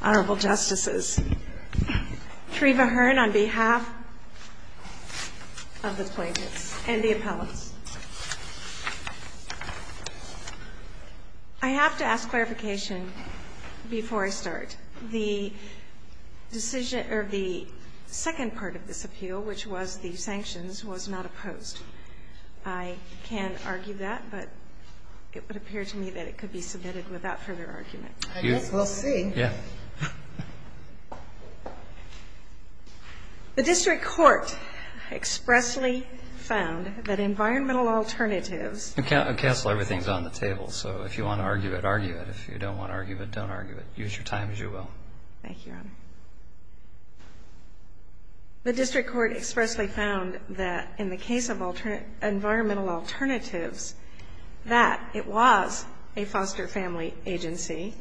Honorable Justices, Treva Hearn on behalf of the plaintiffs and the appellants. I have to ask clarification before I start. The decision or the second part of this appeal, which was the sanctions, was not opposed. I can argue that, but it would appear to me that it could be submitted without further argument. I guess we'll see. Yeah. The district court expressly found that environmental alternatives Counsel, everything's on the table, so if you want to argue it, argue it. If you don't want to argue it, don't argue it. Use your time as you will. Thank you, Your Honor. The district court expressly found that in the case of environmental alternatives, that it was a foster family agency,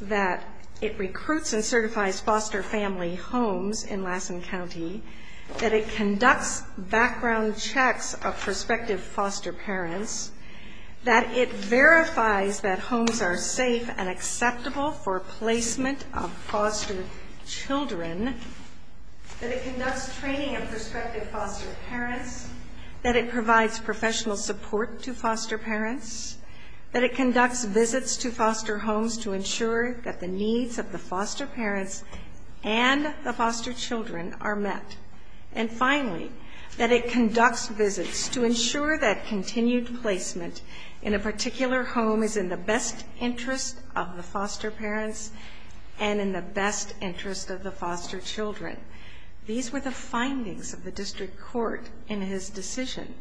that it recruits and certifies foster family homes in Lassen County, that it conducts background checks of prospective foster parents, that it verifies that homes are safe and acceptable for placement of foster children, that it conducts training of prospective foster parents, that it provides professional support to foster parents, that it conducts visits to foster homes to ensure that the needs of the foster parents and the foster children are met, and finally, that it conducts visits to ensure that continued placement in a particular home is in the best interest of the foster parents and in the best interest of the foster children. These were the findings of the district court in his decision.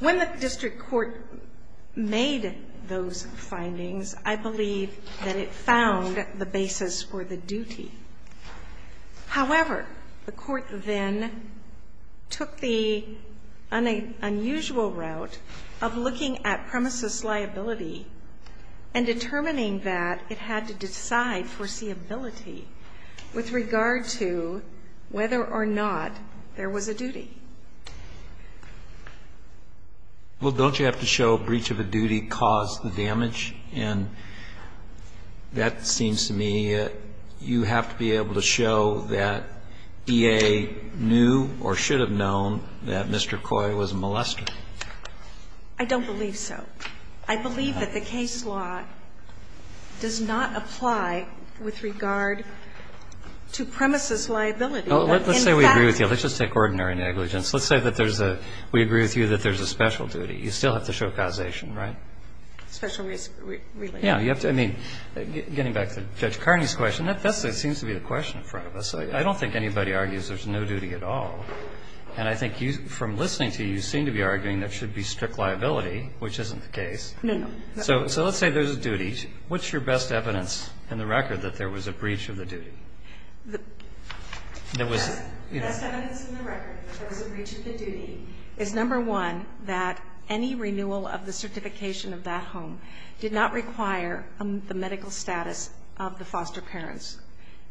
When the district court made those findings, I believe that it found the basis for the duty. However, the court then took the unusual route of looking at premises liability and determining that it had to decide foreseeability with regard to whether or not there was a duty. Well, don't you have to show breach of a duty caused the damage? And that seems to me you have to be able to show that EA knew or should have known that Mr. Coy was a molester. I don't believe so. I believe that the case law does not apply with regard to premises liability. Let's say we agree with you. Let's just take ordinary negligence. Let's say that there's a we agree with you that there's a special duty. You still have to show causation, right? Yeah. Getting back to Judge Carney's question, that seems to be the question in front of us. I don't think anybody argues there's no duty at all. And I think from listening to you, you seem to be arguing there should be strict liability, which isn't the case. No, no. So let's say there's a duty. What's your best evidence in the record that there was a breach of the duty? The best evidence in the record that there was a breach of the duty is, number one, that any renewal of the certification of that home did not require the medical status of the foster parents.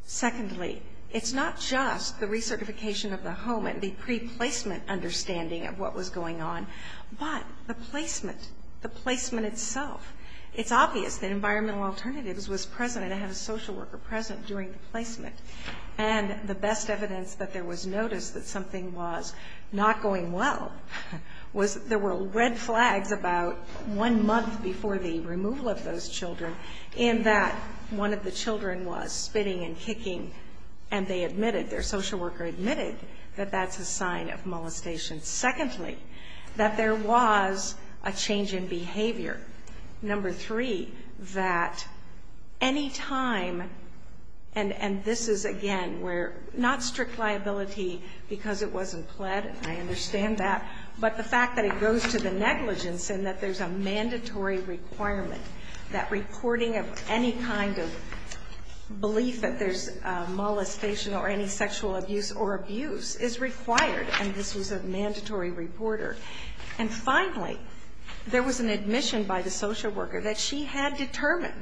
Secondly, it's not just the recertification of the home and the pre-placement understanding of what was going on, but the placement, the placement itself. It's obvious that environmental alternatives was present and had a social worker present during the placement. And the best evidence that there was notice that something was not going well was there were red flags about one month before the removal of those children in that one of the children was spitting and kicking, and they admitted, their social worker admitted that that's a sign of molestation. Number three, that any time, and this is, again, where not strict liability because it wasn't pled, and I understand that, but the fact that it goes to the negligence and that there's a mandatory requirement, that reporting of any kind of belief that there's molestation or any sexual abuse or abuse is required, and this was a mandatory reporter. And finally, there was an admission by the social worker that she had determined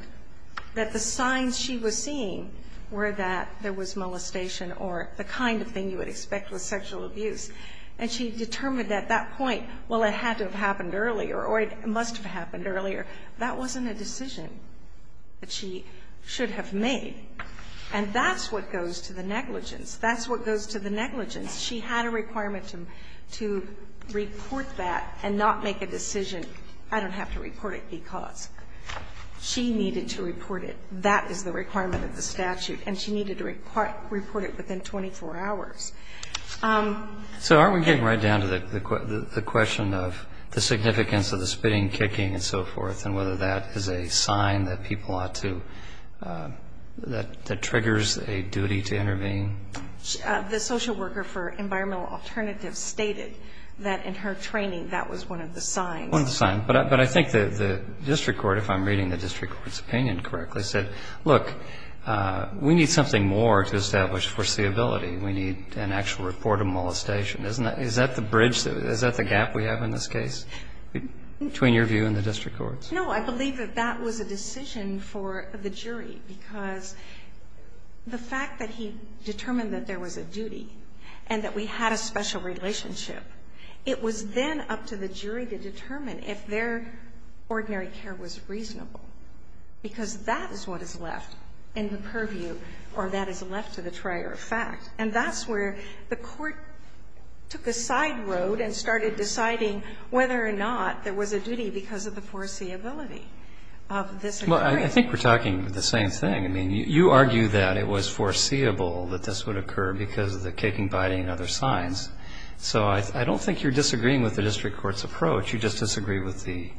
that the signs she was seeing were that there was molestation or the kind of thing you would expect with sexual abuse, and she determined at that point, well, it had to have happened earlier or it must have happened earlier. That wasn't a decision that she should have made, and that's what goes to the negligence. That's what goes to the negligence. She had a requirement to report that and not make a decision, I don't have to report it because she needed to report it. That is the requirement of the statute, and she needed to report it within 24 hours. So aren't we getting right down to the question of the significance of the spitting and kicking and so forth and whether that is a sign that people ought to, that triggers a duty to intervene? The social worker for environmental alternatives stated that in her training that was one of the signs. One of the signs. But I think the district court, if I'm reading the district court's opinion correctly, said, look, we need something more to establish foreseeability. We need an actual report of molestation. Isn't that the bridge? Is that the gap we have in this case between your view and the district court's? No, I believe that that was a decision for the jury because the fact that he determined that there was a duty and that we had a special relationship, it was then up to the jury to determine if their ordinary care was reasonable, because that is what is left in the purview or that is left to the trier of fact. And that's where the court took a side road and started deciding whether or not there was a duty because of the foreseeability of this inquiry. Well, I think we're talking the same thing. I mean, you argue that it was foreseeable that this would occur because of the kicking, biting and other signs. So I don't think you're disagreeing with the district court's approach. You just disagree with the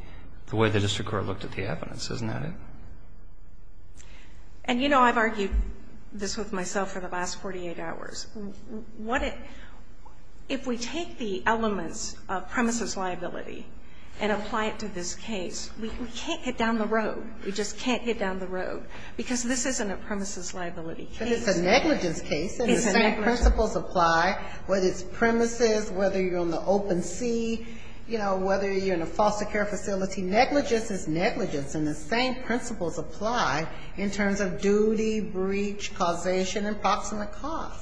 way the district court looked at the evidence. Isn't that it? And, you know, I've argued this with myself for the last 48 hours. If we take the elements of premises liability and apply it to this case, we can't get down the road. We just can't get down the road, because this isn't a premises liability case. But it's a negligence case, and the same principles apply, whether it's premises, whether you're on the open sea, you know, whether you're in a foster care facility. Negligence is negligence, and the same principles apply in terms of duty, breach, causation, and approximate cost.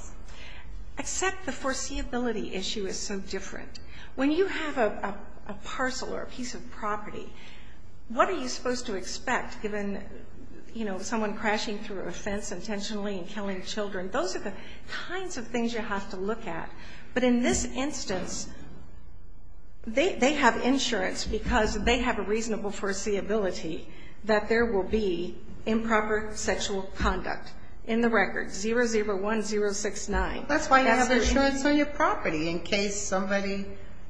Except the foreseeability issue is so different. When you have a parcel or a piece of property, what are you supposed to expect, given, you know, someone crashing through a fence intentionally and killing children? Those are the kinds of things you have to look at. But in this instance, they have insurance because they have a reasonable foreseeability that there will be improper sexual conduct in the record, 001069. That's why you have insurance on your property in case somebody,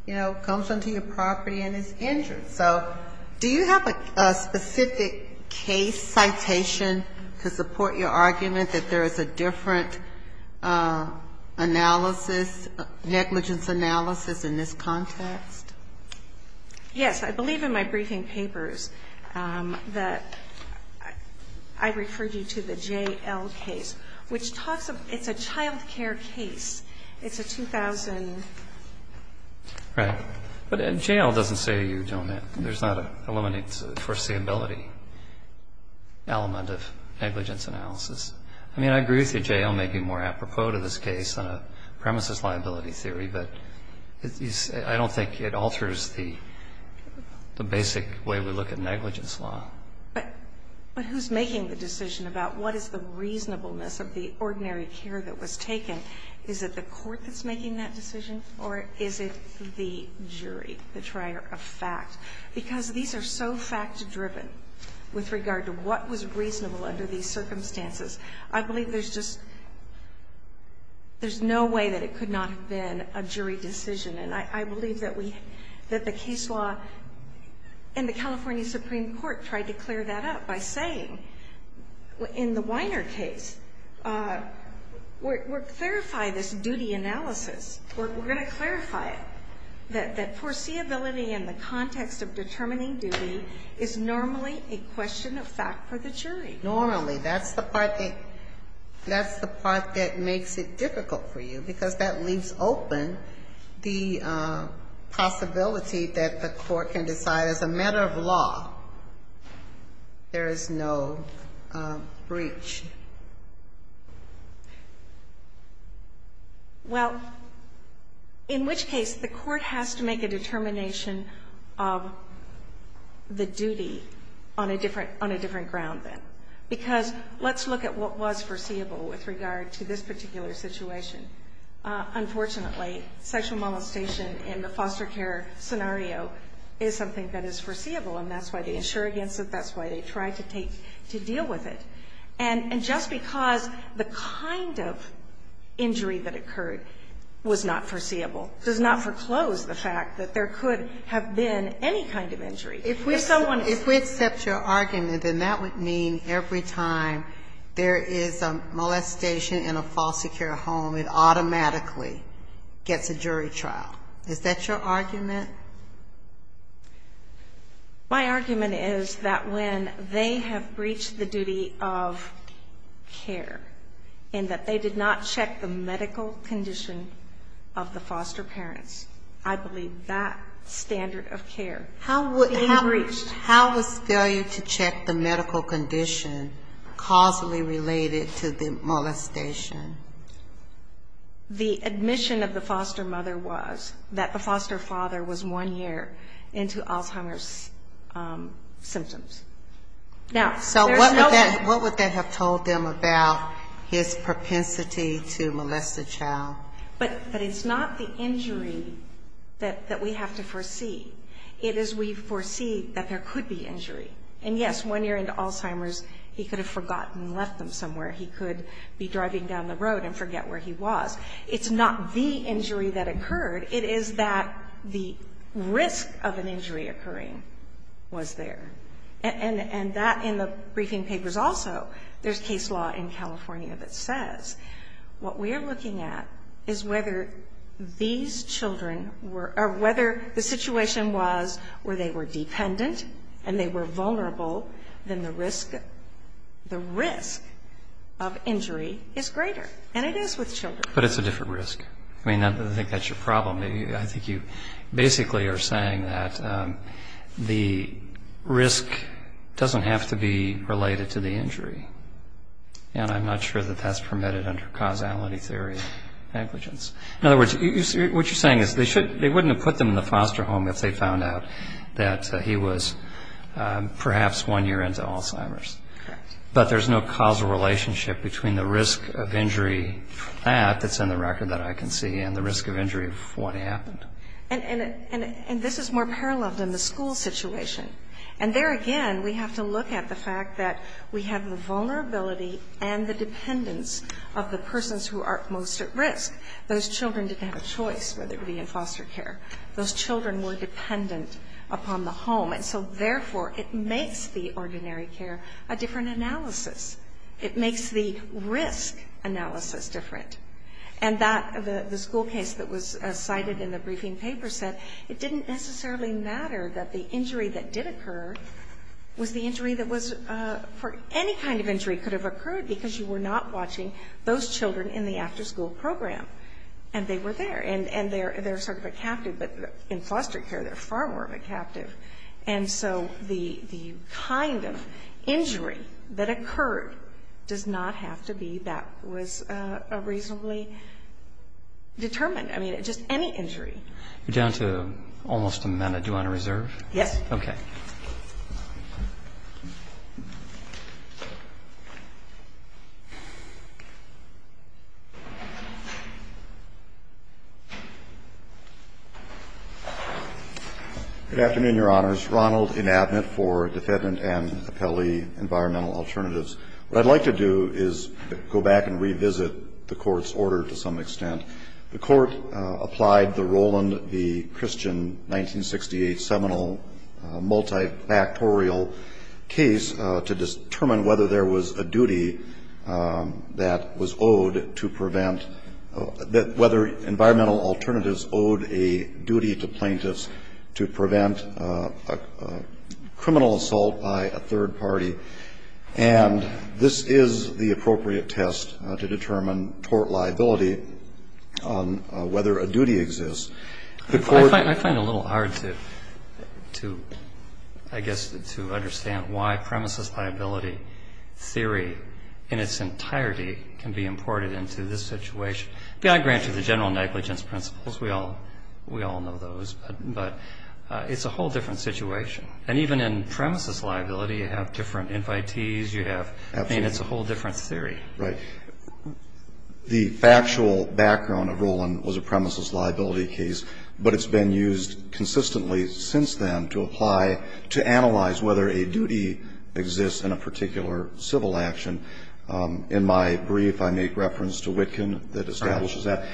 you know, comes onto your property and is injured. So do you have a specific case citation to support your argument that there is a different analysis, negligence analysis in this context? Yes. I believe in my briefing papers that I referred you to the J.L. case, which talks about, it's a child care case. It's a 2000. Right. But J.L. doesn't say to you, gentlemen, there's not a limited foreseeability element of negligence analysis. I mean, I agree with you, J.L. may be more apropos to this case on a premises liability theory, but I don't think it alters the basic way we look at negligence law. But who's making the decision about what is the reasonableness of the ordinary care that was taken? Is it the court that's making that decision, or is it the jury, the trier of fact? Because these are so fact-driven with regard to what was reasonable under these circumstances. I believe there's just no way that it could not have been a jury decision. And I believe that we, that the case law in the California Supreme Court tried to clear that up by saying, in the Weiner case, we're going to clarify this duty analysis. We're going to clarify it. That foreseeability in the context of determining duty is normally a question of fact for the jury. Normally. That's the part that makes it difficult for you, because that leaves open the question of the possibility that the court can decide, as a matter of law, there is no breach. Well, in which case, the court has to make a determination of the duty on a different ground, then. Because let's look at what was foreseeable with regard to this particular situation. Unfortunately, sexual molestation in the foster care scenario is something that is foreseeable, and that's why they insure against it. That's why they try to take, to deal with it. And just because the kind of injury that occurred was not foreseeable does not foreclose the fact that there could have been any kind of injury. If someone is going to say that. If we accept your argument, then that would mean every time there is a molestation in a foster care home, it automatically gets a jury trial. Is that your argument? My argument is that when they have breached the duty of care, and that they did not check the medical condition of the foster parents, I believe that standard of care being breached. How was failure to check the medical condition causally related to the molestation The admission of the foster mother was that the foster father was one year into Alzheimer's symptoms. So what would that have told them about his propensity to molest a child? But it's not the injury that we have to foresee. It is we foresee that there could be injury. And yes, one year into Alzheimer's, he could have forgotten and left them somewhere. He could be driving down the road and forget where he was. It's not the injury that occurred. It is that the risk of an injury occurring was there. And that, in the briefing papers also, there is case law in California that says what we are looking at is whether these children were or whether the situation was where they were dependent and they were vulnerable, then the risk, the risk of injury is greater. And it is with children. But it's a different risk. I mean, I think that's your problem. I think you basically are saying that the risk doesn't have to be related to the injury. And I'm not sure that that's permitted under causality theory of negligence. In other words, what you're saying is they wouldn't have put them in the foster home if they found out that he was perhaps one year into Alzheimer's. Correct. But there's no causal relationship between the risk of injury of that that's in the record that I can see and the risk of injury of what happened. And this is more parallel than the school situation. And there again, we have to look at the fact that we have the vulnerability and the dependence of the persons who are most at risk. Those children didn't have a choice whether it be in foster care. Those children were dependent upon the home. And so, therefore, it makes the ordinary care a different analysis. It makes the risk analysis different. And the school case that was cited in the briefing paper said it didn't necessarily matter that the injury that did occur was the injury that was for any kind of injury could have occurred because you were not watching those children in the afterschool program. And they were there. And they're sort of a captive. But in foster care, they're far more of a captive. And so the kind of injury that occurred does not have to be that was reasonably determined. I mean, just any injury. You're down to almost a minute. Do you want to reserve? Yes. Good afternoon, Your Honors. Ronald Inabnit for Defendant and Appellee Environmental Alternatives. What I'd like to do is go back and revisit the Court's order to some extent. The Court applied the Roland v. Christian 1968 seminal multifactorial case to determine whether there was a duty that was owed to prevent that whether environmental alternatives owed a duty to plaintiffs to prevent a criminal assault by a third party. And this is the appropriate test to determine tort liability on whether a duty exists. I find it a little hard to, I guess, to understand why premises liability theory in its entirety can be imported into this situation. I grant you the general negligence principles. We all know those. But it's a whole different situation. And even in premises liability, you have different invitees. You have, I mean, it's a whole different theory. Right. The factual background of Roland was a premises liability case. But it's been used consistently since then to apply, to analyze whether a duty exists in a particular civil action. In my brief, I make reference to Witkin that establishes that.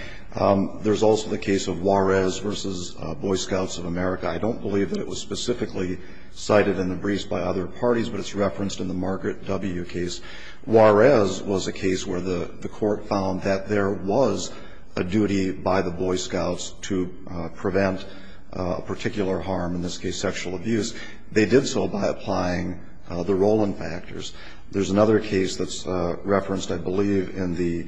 There's also the case of Juarez v. Boy Scouts of America. I don't believe that it was specifically cited in the briefs by other parties, but it's referenced in the Margaret W. case. Juarez was a case where the Court found that there was a duty by the Boy Scouts to prevent a particular harm, in this case sexual abuse. They did so by applying the Roland factors. There's another case that's referenced, I believe, in the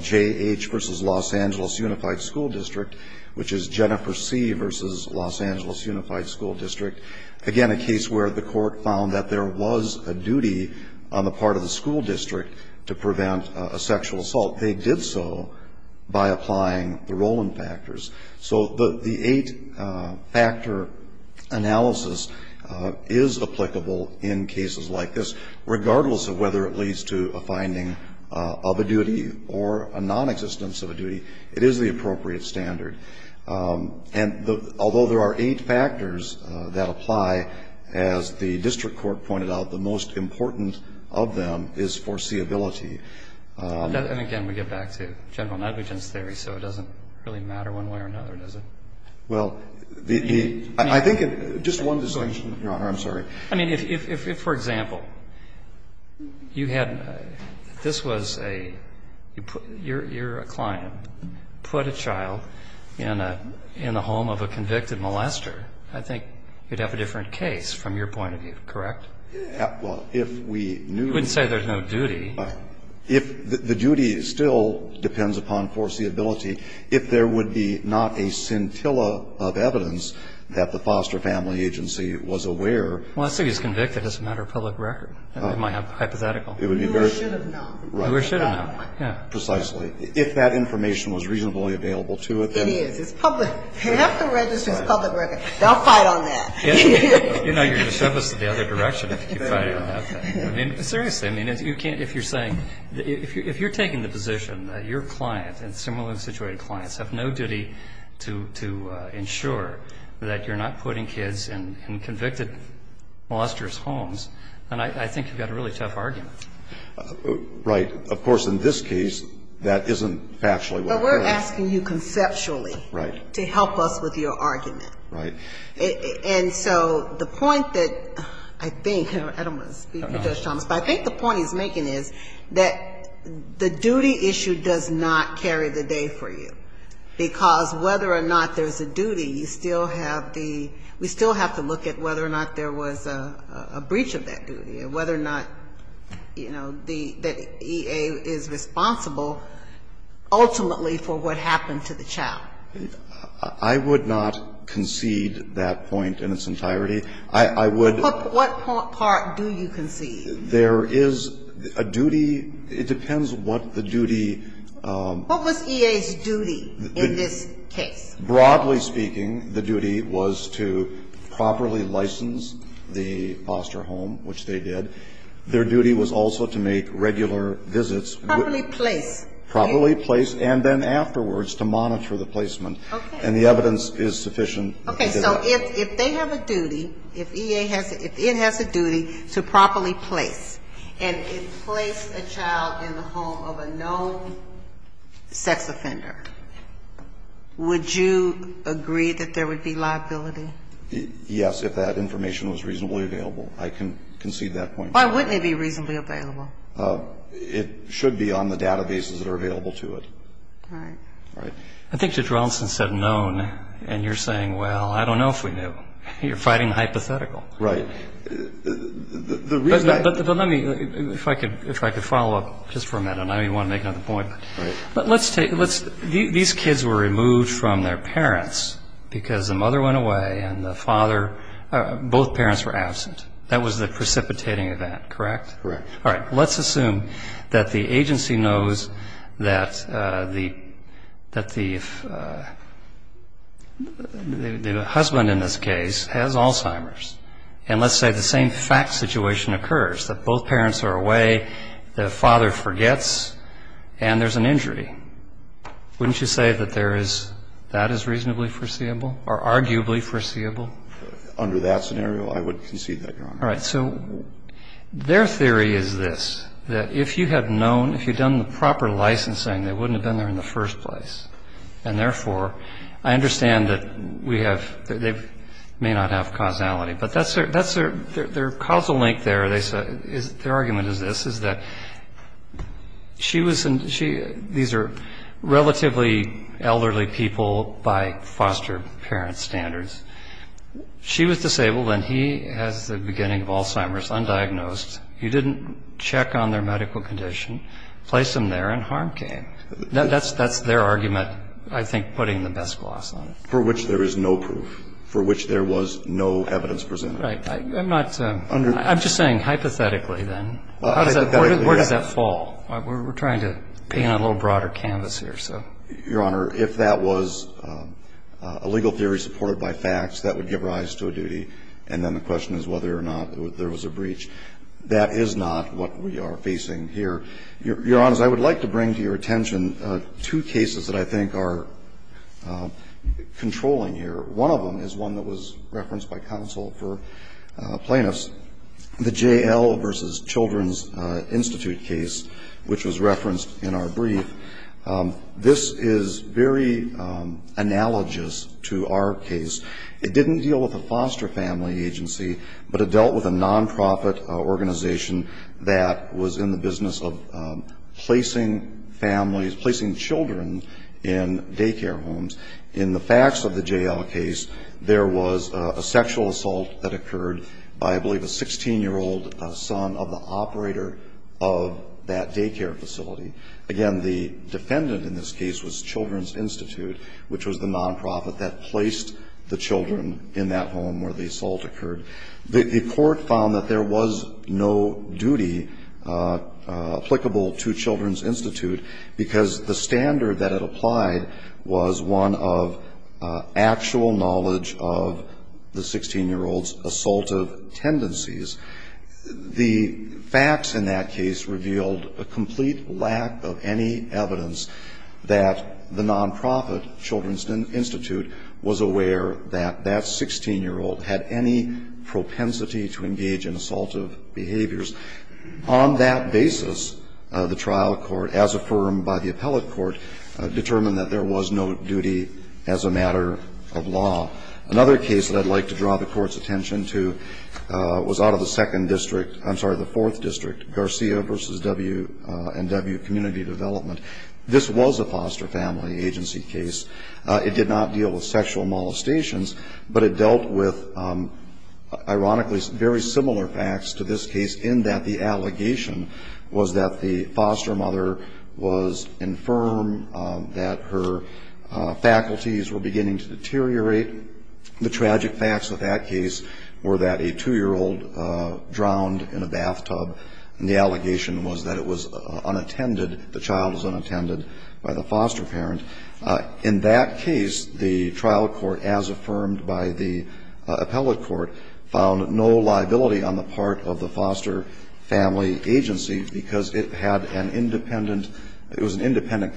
J.H. v. Los Angeles Unified School District, which is Jennifer C. v. Los Angeles Unified School District. Again, a case where the Court found that there was a duty on the part of the school district to prevent a sexual assault. They did so by applying the Roland factors. So the eight-factor analysis is applicable in cases like this, regardless of whether it leads to a finding of a duty or a nonexistence of a duty. It is the appropriate standard. And although there are eight factors that apply, as the district court pointed out, the most important of them is foreseeability. And again, we get back to general negligence theory, so it doesn't really matter one way or another, does it? Well, I think just one distinction, Your Honor. I'm sorry. I mean, if, for example, you had this was a, you're a client. Put a child in a home of a convicted molester, I think you'd have a different case from your point of view, correct? Well, if we knew. You wouldn't say there's no duty. The duty still depends upon foreseeability. If there would be not a scintilla of evidence that the foster family agency was aware. Well, let's say he's convicted as a matter of public record. It might be hypothetical. It would be very. We should have known. We should have known, yeah. Precisely. If that information was reasonably available to it, then. It is. It's public. You have to register as public record. Don't fight on that. You know, you're going to shove us in the other direction if you fight on that. I mean, seriously. I mean, if you're saying, if you're taking the position that your client and similarly situated clients have no duty to ensure that you're not putting kids in convicted molester's homes, then I think you've got a really tough argument. Right. Of course, in this case, that isn't factually what we're asking. But we're asking you conceptually. Right. To help us with your argument. Right. And so the point that I think, I don't want to speak for Judge Thomas, but I think the point he's making is that the duty issue does not carry the day for you. Because whether or not there's a duty, you still have the, we still have to look at whether or not there was a breach of that duty and whether or not, you know, the EA is responsible ultimately for what happened to the child. I would not concede that point in its entirety. I would. What part do you concede? There is a duty, it depends what the duty. What was EA's duty in this case? Broadly speaking, the duty was to properly license the foster home, which they did. Their duty was also to make regular visits. Properly place. Properly place and then afterwards to monitor the placement. Okay. And the evidence is sufficient. Okay. So if they have a duty, if EA has, if it has a duty to properly place, and it placed a child in the home of a known sex offender, would you agree that there would be liability? Yes, if that information was reasonably available. I can concede that point. Why wouldn't it be reasonably available? It should be on the databases that are available to it. Right. Right. I think Judge Raulston said known, and you're saying, well, I don't know if we knew. You're fighting the hypothetical. The reason I. But let me, if I could follow up just for a minute. I know you want to make another point. Right. But let's take, these kids were removed from their parents because the mother went away and the father, both parents were absent. That was the precipitating event, correct? Correct. All right. Let's assume that the agency knows that the husband in this case has Alzheimer's. And let's say the same fact situation occurs, that both parents are away, the father forgets, and there's an injury. Wouldn't you say that there is, that is reasonably foreseeable or arguably foreseeable? Under that scenario, I would concede that, Your Honor. All right. So their theory is this, that if you had known, if you had done the proper licensing, they wouldn't have been there in the first place. And therefore, I understand that we have, they may not have causality. But that's their causal link there. Their argument is this, is that she was, these are relatively elderly people by foster parent standards. She was disabled and he has the beginning of Alzheimer's, undiagnosed. You didn't check on their medical condition, place him there, and harm came. That's their argument, I think, putting the best gloss on it. For which there is no proof. For which there was no evidence presented. Right. I'm not, I'm just saying hypothetically, then. Where does that fall? We're trying to paint a little broader canvas here, so. Your Honor, if that was a legal theory supported by facts, that would give rise to a duty. And then the question is whether or not there was a breach. That is not what we are facing here. Your Honor, I would like to bring to your attention two cases that I think are controlling here. One of them is one that was referenced by counsel for plaintiffs. The J.L. v. Children's Institute case, which was referenced in our brief. This is very analogous to our case. It didn't deal with a foster family agency, but it dealt with a nonprofit organization that was in the business of placing families, placing children in daycare homes. In the facts of the J.L. case, there was a sexual assault that occurred by, I believe, a 16-year-old son of the operator of that daycare facility. Again, the defendant in this case was Children's Institute, which was the nonprofit that placed the children in that home where the assault occurred. The court found that there was no duty applicable to Children's Institute because the standard that it applied was one of actual knowledge of the 16-year-old's assaultive tendencies. The facts in that case revealed a complete lack of any evidence that the nonprofit, Children's Institute, was aware that that 16-year-old had any propensity to engage in assaultive behaviors. On that basis, the trial court, as affirmed by the appellate court, determined that there was no duty as a matter of law. Another case that I'd like to draw the Court's attention to was out of the second district, I'm sorry, the fourth district, Garcia v. W&W Community Development. This was a foster family agency case. It did not deal with sexual molestations, but it dealt with, ironically, very similar facts to this case in that the allegation was that the foster mother was infirm, that her faculties were beginning to deteriorate. The tragic facts of that case were that a 2-year-old drowned in a bathtub, and the allegation was that it was unattended. The child was unattended by the foster parent. In that case, the trial court, as affirmed by the appellate court, found no liability on the part of the foster family agency because it had an independent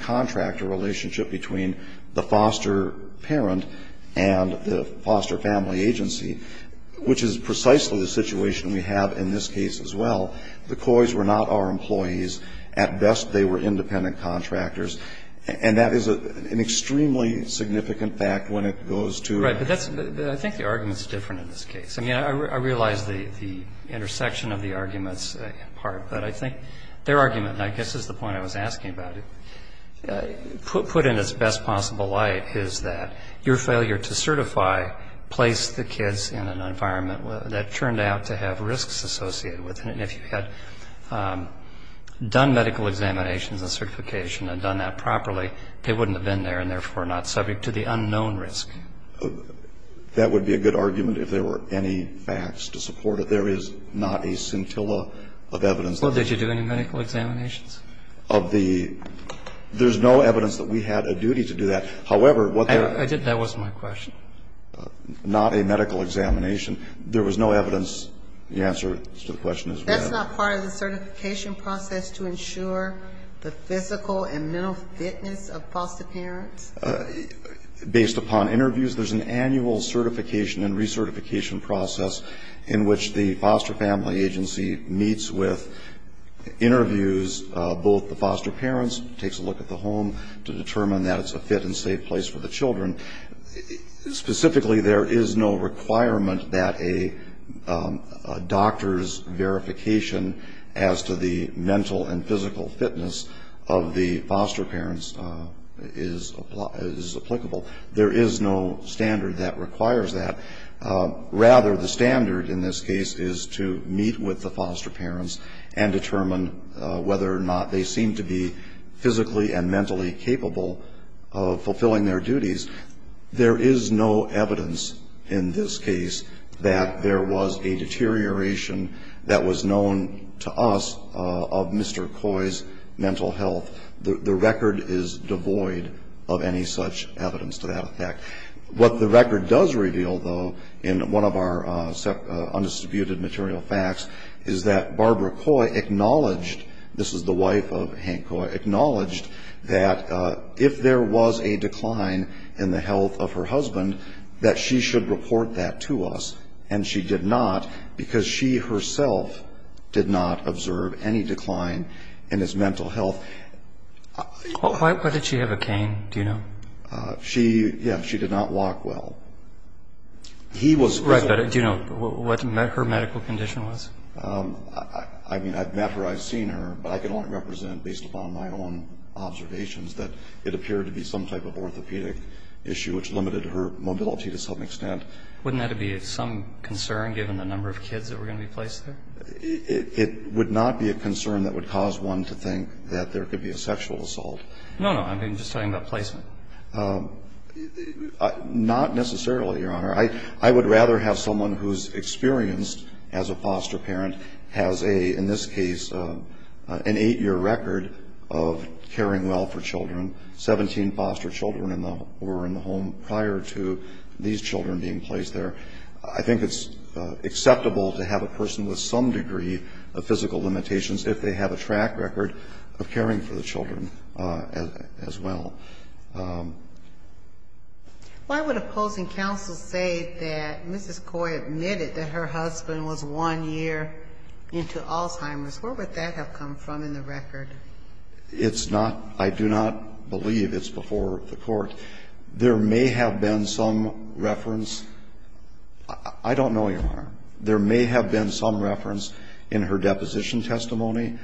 contract, a relationship between the foster parent and the foster family agency, which is precisely the situation we have in this case as well. The Coys were not our employees. At best, they were independent contractors. And that is an extremely significant fact when it goes to a ---- Roberts. Right. But that's the ---- I think the argument is different in this case. I mean, I realize the intersection of the arguments in part, but I think their argument, and I guess this is the point I was asking about, put in its best possible light is that your failure to certify placed the kids in an environment that turned out to have risks associated with it. And if you had done medical examinations and certification and done that properly, they wouldn't have been there and therefore not subject to the unknown risk. That would be a good argument if there were any facts to support it. There is not a scintilla of evidence. Well, did you do any medical examinations? Of the ---- there's no evidence that we had a duty to do that. However, what they're ---- That was my question. Not a medical examination. There was no evidence. The answer to the question is we had. That's not part of the certification process to ensure the physical and mental fitness of foster parents? Based upon interviews, there's an annual certification and recertification process in which the foster family agency meets with interviews of both the foster parents, takes a look at the home to determine that it's a fit and safe place for the children. Specifically, there is no requirement that a doctor's verification as to the mental and physical fitness of the foster parents is applicable. There is no standard that requires that. Rather, the standard in this case is to meet with the foster parents and determine whether or not they seem to be physically and mentally capable of fulfilling their duties. There is no evidence in this case that there was a deterioration that was known to us of Mr. Coy's mental health. The record is devoid of any such evidence to that effect. What the record does reveal, though, in one of our undistributed material facts, is that Barbara Coy acknowledged, this is the wife of Hank Coy, acknowledged that if there was a decline in the health of her husband, that she should report that to us. And she did not because she herself did not observe any decline in his mental health. Why did she have a cane? Do you know? She, yeah, she did not walk well. He was... Right, but do you know what her medical condition was? I mean, I've met her, I've seen her, but I can only represent based upon my own observations that it appeared to be some type of orthopedic issue, which limited her mobility to some extent. Wouldn't that be some concern given the number of kids that were going to be placed there? It would not be a concern that would cause one to think that there could be a sexual assault. No, no, I'm just talking about placement. Not necessarily, Your Honor. I would rather have someone who's experienced as a foster parent, has a, in this case, an eight-year record of caring well for children. Seventeen foster children were in the home prior to these children being placed there. I think it's acceptable to have a person with some degree of physical limitations if they have a track record of caring for the children as well. Why would opposing counsel say that Mrs. Coy admitted that her husband was one year into Alzheimer's? Where would that have come from in the record? It's not, I do not believe it's before the court. There may have been some reference, I don't know, Your Honor. There may have been some reference in her deposition testimony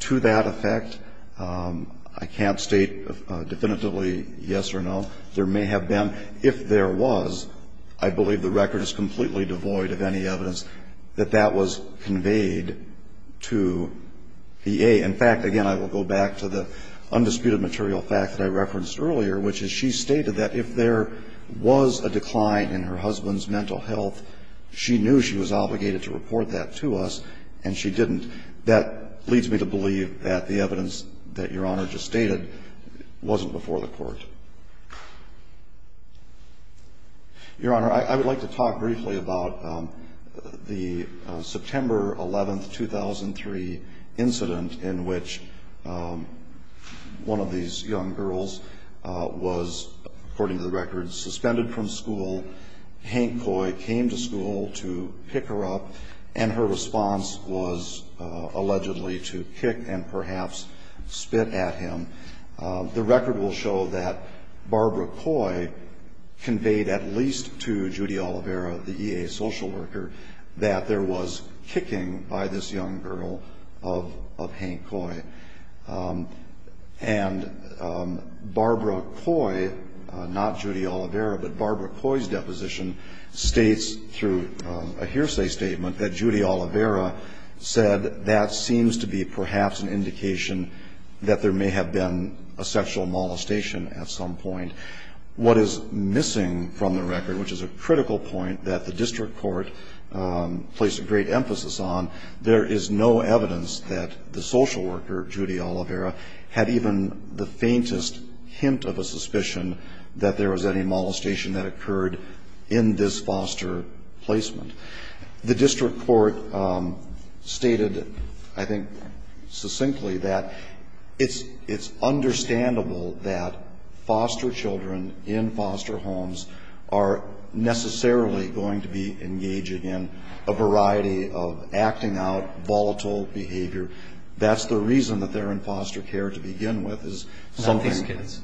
to that effect. I can't state definitively yes or no. There may have been. If there was, I believe the record is completely devoid of any evidence that that was conveyed to VA. In fact, again, I will go back to the undisputed material fact that I referenced earlier, which is she stated that if there was a decline in her husband's mental health, she knew she was obligated to report that to us, and she didn't. That leads me to believe that the evidence that Your Honor just stated wasn't before the court. Your Honor, I would like to talk briefly about the September 11, 2003, incident in which one of these young girls was, according to the record, suspended from school. Hank Coy came to school to pick her up, and her response was allegedly to kick and perhaps spit at him. The record will show that Barbara Coy conveyed at least to Judy Olivera, the EA social worker, that there was kicking by this young girl of Hank Coy. And Barbara Coy, not Judy Olivera, but Barbara Coy's deposition states through a hearsay statement that Judy Olivera said that seems to be perhaps an indication that there may have been a sexual molestation at some point. What is missing from the record, which is a critical point that the district court placed a great emphasis on, there is no evidence that the social worker, Judy Olivera, had even the faintest hint of a suspicion that there was any molestation that occurred in this foster placement. The district court stated, I think succinctly, that it's understandable that foster children in foster homes are necessarily going to be engaging in a variety of acting out volatile behavior. That's the reason that they're in foster care to begin with. Not these kids.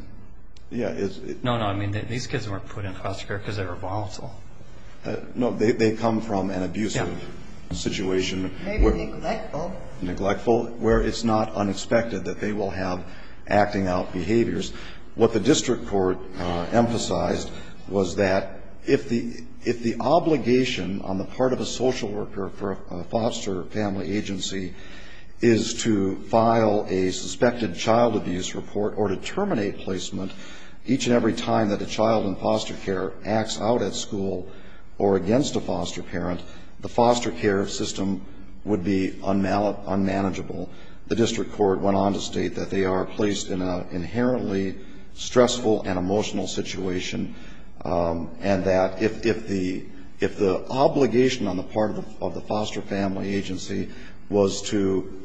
Yeah. No, no, I mean these kids weren't put in foster care because they were volatile. No, they come from an abusive situation. Maybe neglectful. Neglectful, where it's not unexpected that they will have acting out behaviors. What the district court emphasized was that if the obligation on the part of a social worker for a foster family agency is to file a suspected child abuse report or to terminate placement each and every time that a child in foster care acts out at school or against a foster parent, the foster care system would be unmanageable. The district court went on to state that they are placed in an inherently stressful and emotional situation and that if the obligation on the part of the foster family agency was to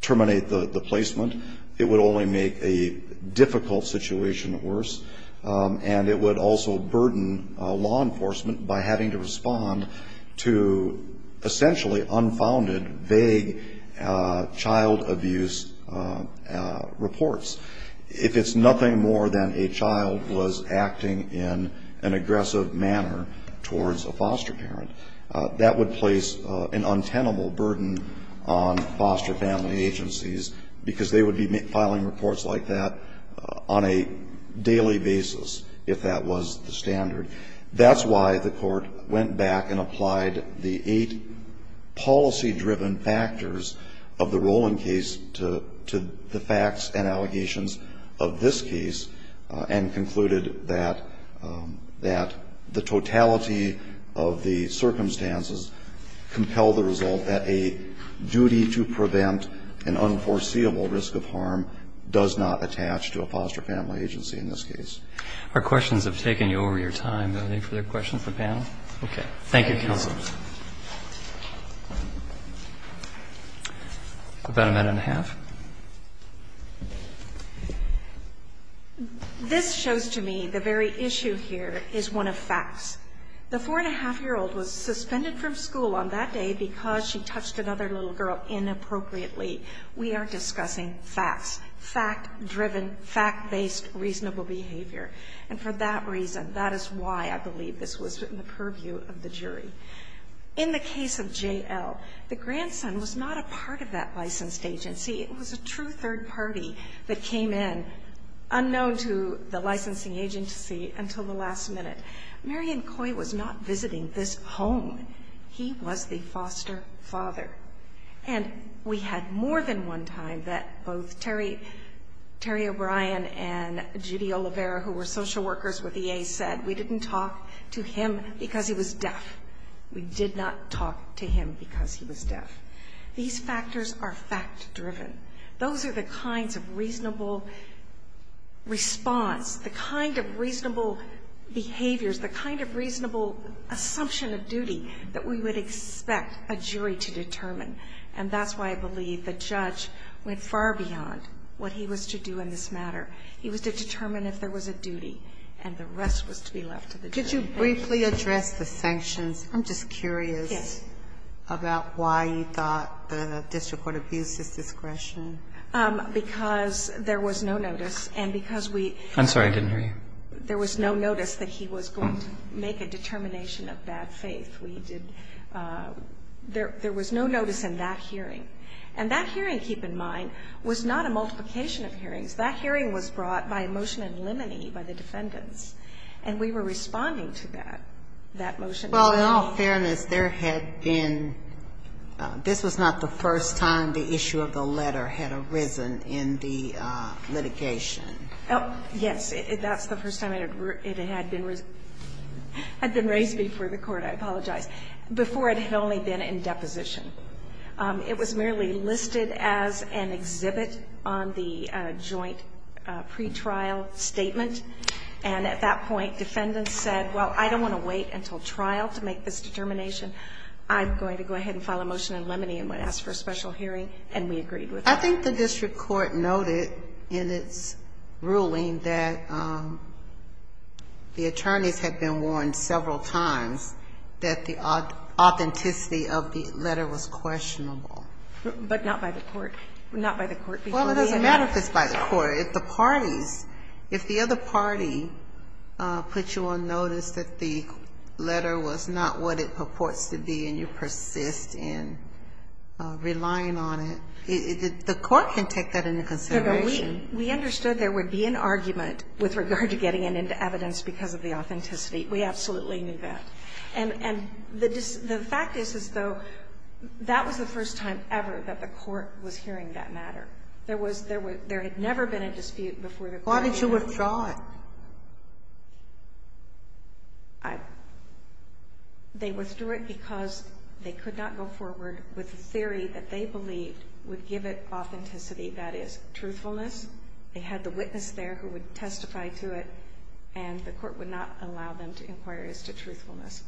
terminate the placement, it would only make a difficult situation worse and it would also burden law enforcement by having to respond to essentially unfounded, vague child abuse reports. If it's nothing more than a child was acting in an aggressive manner towards a foster parent, that would place an untenable burden on foster family agencies because they would be filing reports like that on a daily basis if that was the standard. That's why the court went back and applied the eight policy-driven factors of the Rowland case to the facts and allegations of this case and concluded that the totality of the circumstances compel the result that a duty to prevent an unforeseeable risk of harm does not attach to a foster family agency in this case. Our questions have taken you over your time. Are there any further questions of the panel? Okay. Thank you, counsel. About a minute and a half. This shows to me the very issue here is one of facts. The 4-1⁄2-year-old was suspended from school on that day because she touched another little girl inappropriately. We are discussing facts, fact-driven, fact-based reasonable behavior. And for that reason, that is why I believe this was in the purview of the jury. In the case of J.L., the grandson was not a part of that licensed agency. It was a true third party that came in, unknown to the licensing agency until the last minute. Marion Coy was not visiting this home. He was the foster father. And we had more than one time that both Terry O'Brien and Judy Olivera, who were social workers with EA, said we didn't talk to him because he was deaf. We did not talk to him because he was deaf. These factors are fact-driven. Those are the kinds of reasonable response, the kind of reasonable behaviors, the kind of reasonable assumption of duty that we would expect a jury to determine. And that's why I believe the judge went far beyond what he was to do in this matter. He was to determine if there was a duty, and the rest was to be left to the jury. Sotomayor, could you briefly address the sanctions? I'm just curious about why you thought the district court abused his discretion. Because there was no notice, and because we ---- I'm sorry. I didn't hear you. There was no notice that he was going to make a determination of bad faith. We did ---- there was no notice in that hearing. And that hearing, keep in mind, was not a multiplication of hearings. That hearing was brought by a motion in limine by the defendants, and we were responding to that, that motion. Well, in all fairness, there had been ---- this was not the first time the issue of the letter had arisen in the litigation. Yes. That's the first time it had been raised before the court. I apologize. Before it had only been in deposition. It was merely listed as an exhibit on the joint pretrial statement. And at that point, defendants said, well, I don't want to wait until trial to make this determination. I'm going to go ahead and file a motion in limine and ask for a special hearing, and we agreed with that. I think the district court noted in its ruling that the attorneys had been warned several times that the authenticity of the letter was questionable. But not by the court. Not by the court. Well, it doesn't matter if it's by the court. If the parties, if the other party put you on notice that the letter was not what it purports to be and you persist in relying on it, the court can take that into consideration. We understood there would be an argument with regard to getting it into evidence because of the authenticity. We absolutely knew that. And the fact is, is, though, that was the first time ever that the court was hearing that matter. There was, there had never been a dispute before the court did. Why did you withdraw it? I, they withdrew it because they could not go forward with the theory that they believed would give it authenticity, that is, truthfulness. They had the witness there who would testify to it. And the court would not allow them to inquire as to truthfulness.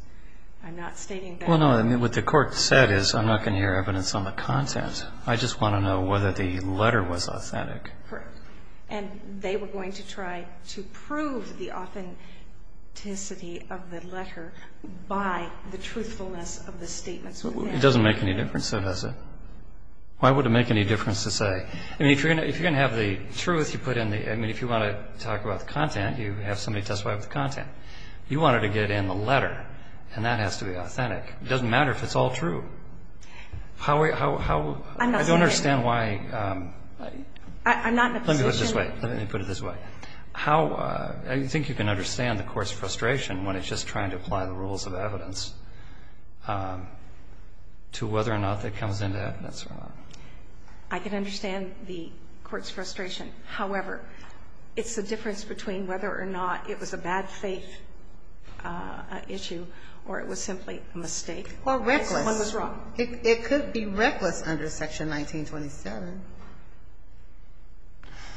I'm not stating that. Well, no, what the court said is, I'm not going to hear evidence on the content. I just want to know whether the letter was authentic. Correct. And they were going to try to prove the authenticity of the letter by the truthfulness of the statements. It doesn't make any difference, though, does it? Why would it make any difference to say? I mean, if you're going to have the truth, you put in the, I mean, if you want to talk about the content, you have somebody testify with the content. You wanted to get in the letter, and that has to be authentic. It doesn't matter if it's all true. How, how, how, I don't understand why. I'm not saying. I'm not in a position. Let me put it this way, let me put it this way. How, I think you can understand the court's frustration when it's just trying to apply the rules of evidence to whether or not that comes into evidence or not. I can understand the court's frustration. However, it's the difference between whether or not it was a bad faith issue or it was simply a mistake. Or reckless. One was wrong. It could be reckless under Section 1927.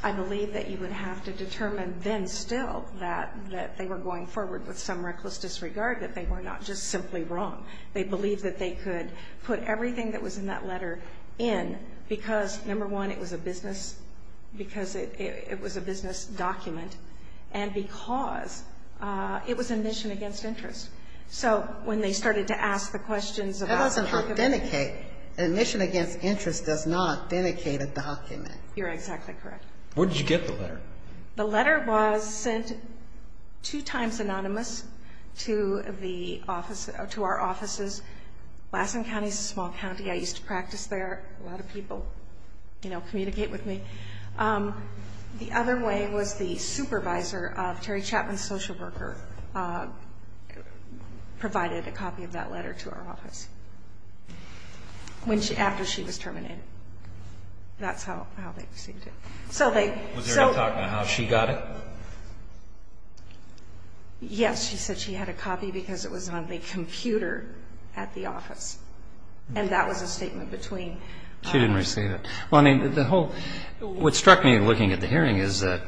I believe that you would have to determine then still that they were going forward with some reckless disregard, that they were not just simply wrong. They believed that they could put everything that was in that letter in because, number one, it was a business, because it was a business document, and because it was admission against interest. So when they started to ask the questions about. That doesn't authenticate. Admission against interest does not authenticate a document. You're exactly correct. Where did you get the letter? The letter was sent two times anonymous to the office, to our offices. Lassen County is a small county. I used to practice there. A lot of people, you know, communicate with me. The other way was the supervisor of Terry Chapman's social worker provided a copy of that letter to our office after she was terminated. That's how they received it. Was there any talk about how she got it? Yes. She said she had a copy because it was on the computer at the office. And that was a statement between us. She didn't receive it. Well, I mean, the whole. What struck me looking at the hearing is that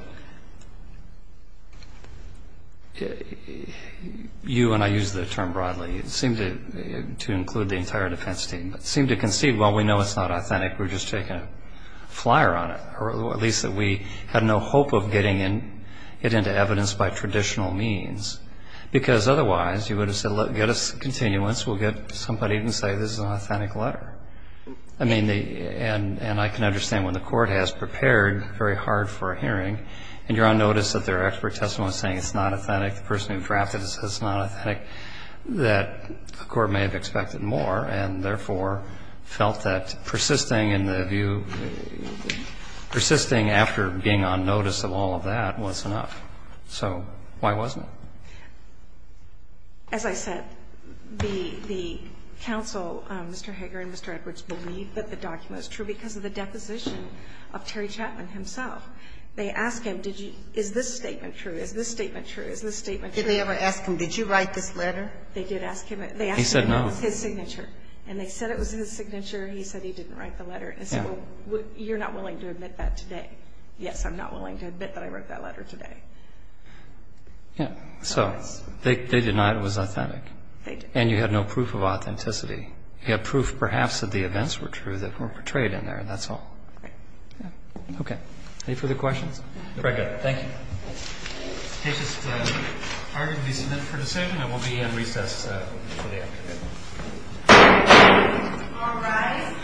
you, and I use the term broadly, seem to include the entire defense team, but seem to concede, well, we know it's not authentic. We're just taking a flyer on it. Or at least that we had no hope of getting it into evidence by traditional means. Because otherwise, you would have said, get us continuance. We'll get somebody who can say this is an authentic letter. I mean, and I can understand when the court has prepared very hard for a hearing and you're on notice that there are expert testimonies saying it's not authentic, the person who drafted it says it's not authentic, that the court may have expected more and therefore felt that persisting in the view, persisting after being on notice of all of that was enough. So why wasn't it? As I said, the counsel, Mr. Hager and Mr. Edwards, believed that the document was true because of the deposition of Terry Chapman himself. They asked him, is this statement true? Is this statement true? Is this statement true? Did they ever ask him, did you write this letter? They did ask him. He said no. It was his signature. And they said it was his signature. He said he didn't write the letter. They said, well, you're not willing to admit that today. Yes, I'm not willing to admit that I wrote that letter today. Yeah. So they denied it was authentic. They did. And you had no proof of authenticity. You had proof perhaps that the events were true that were portrayed in there. That's all. Right. Okay. Any further questions? Very good. Thank you. The case is ordered to be submitted for decision. It will be in recess for the afternoon. All rise.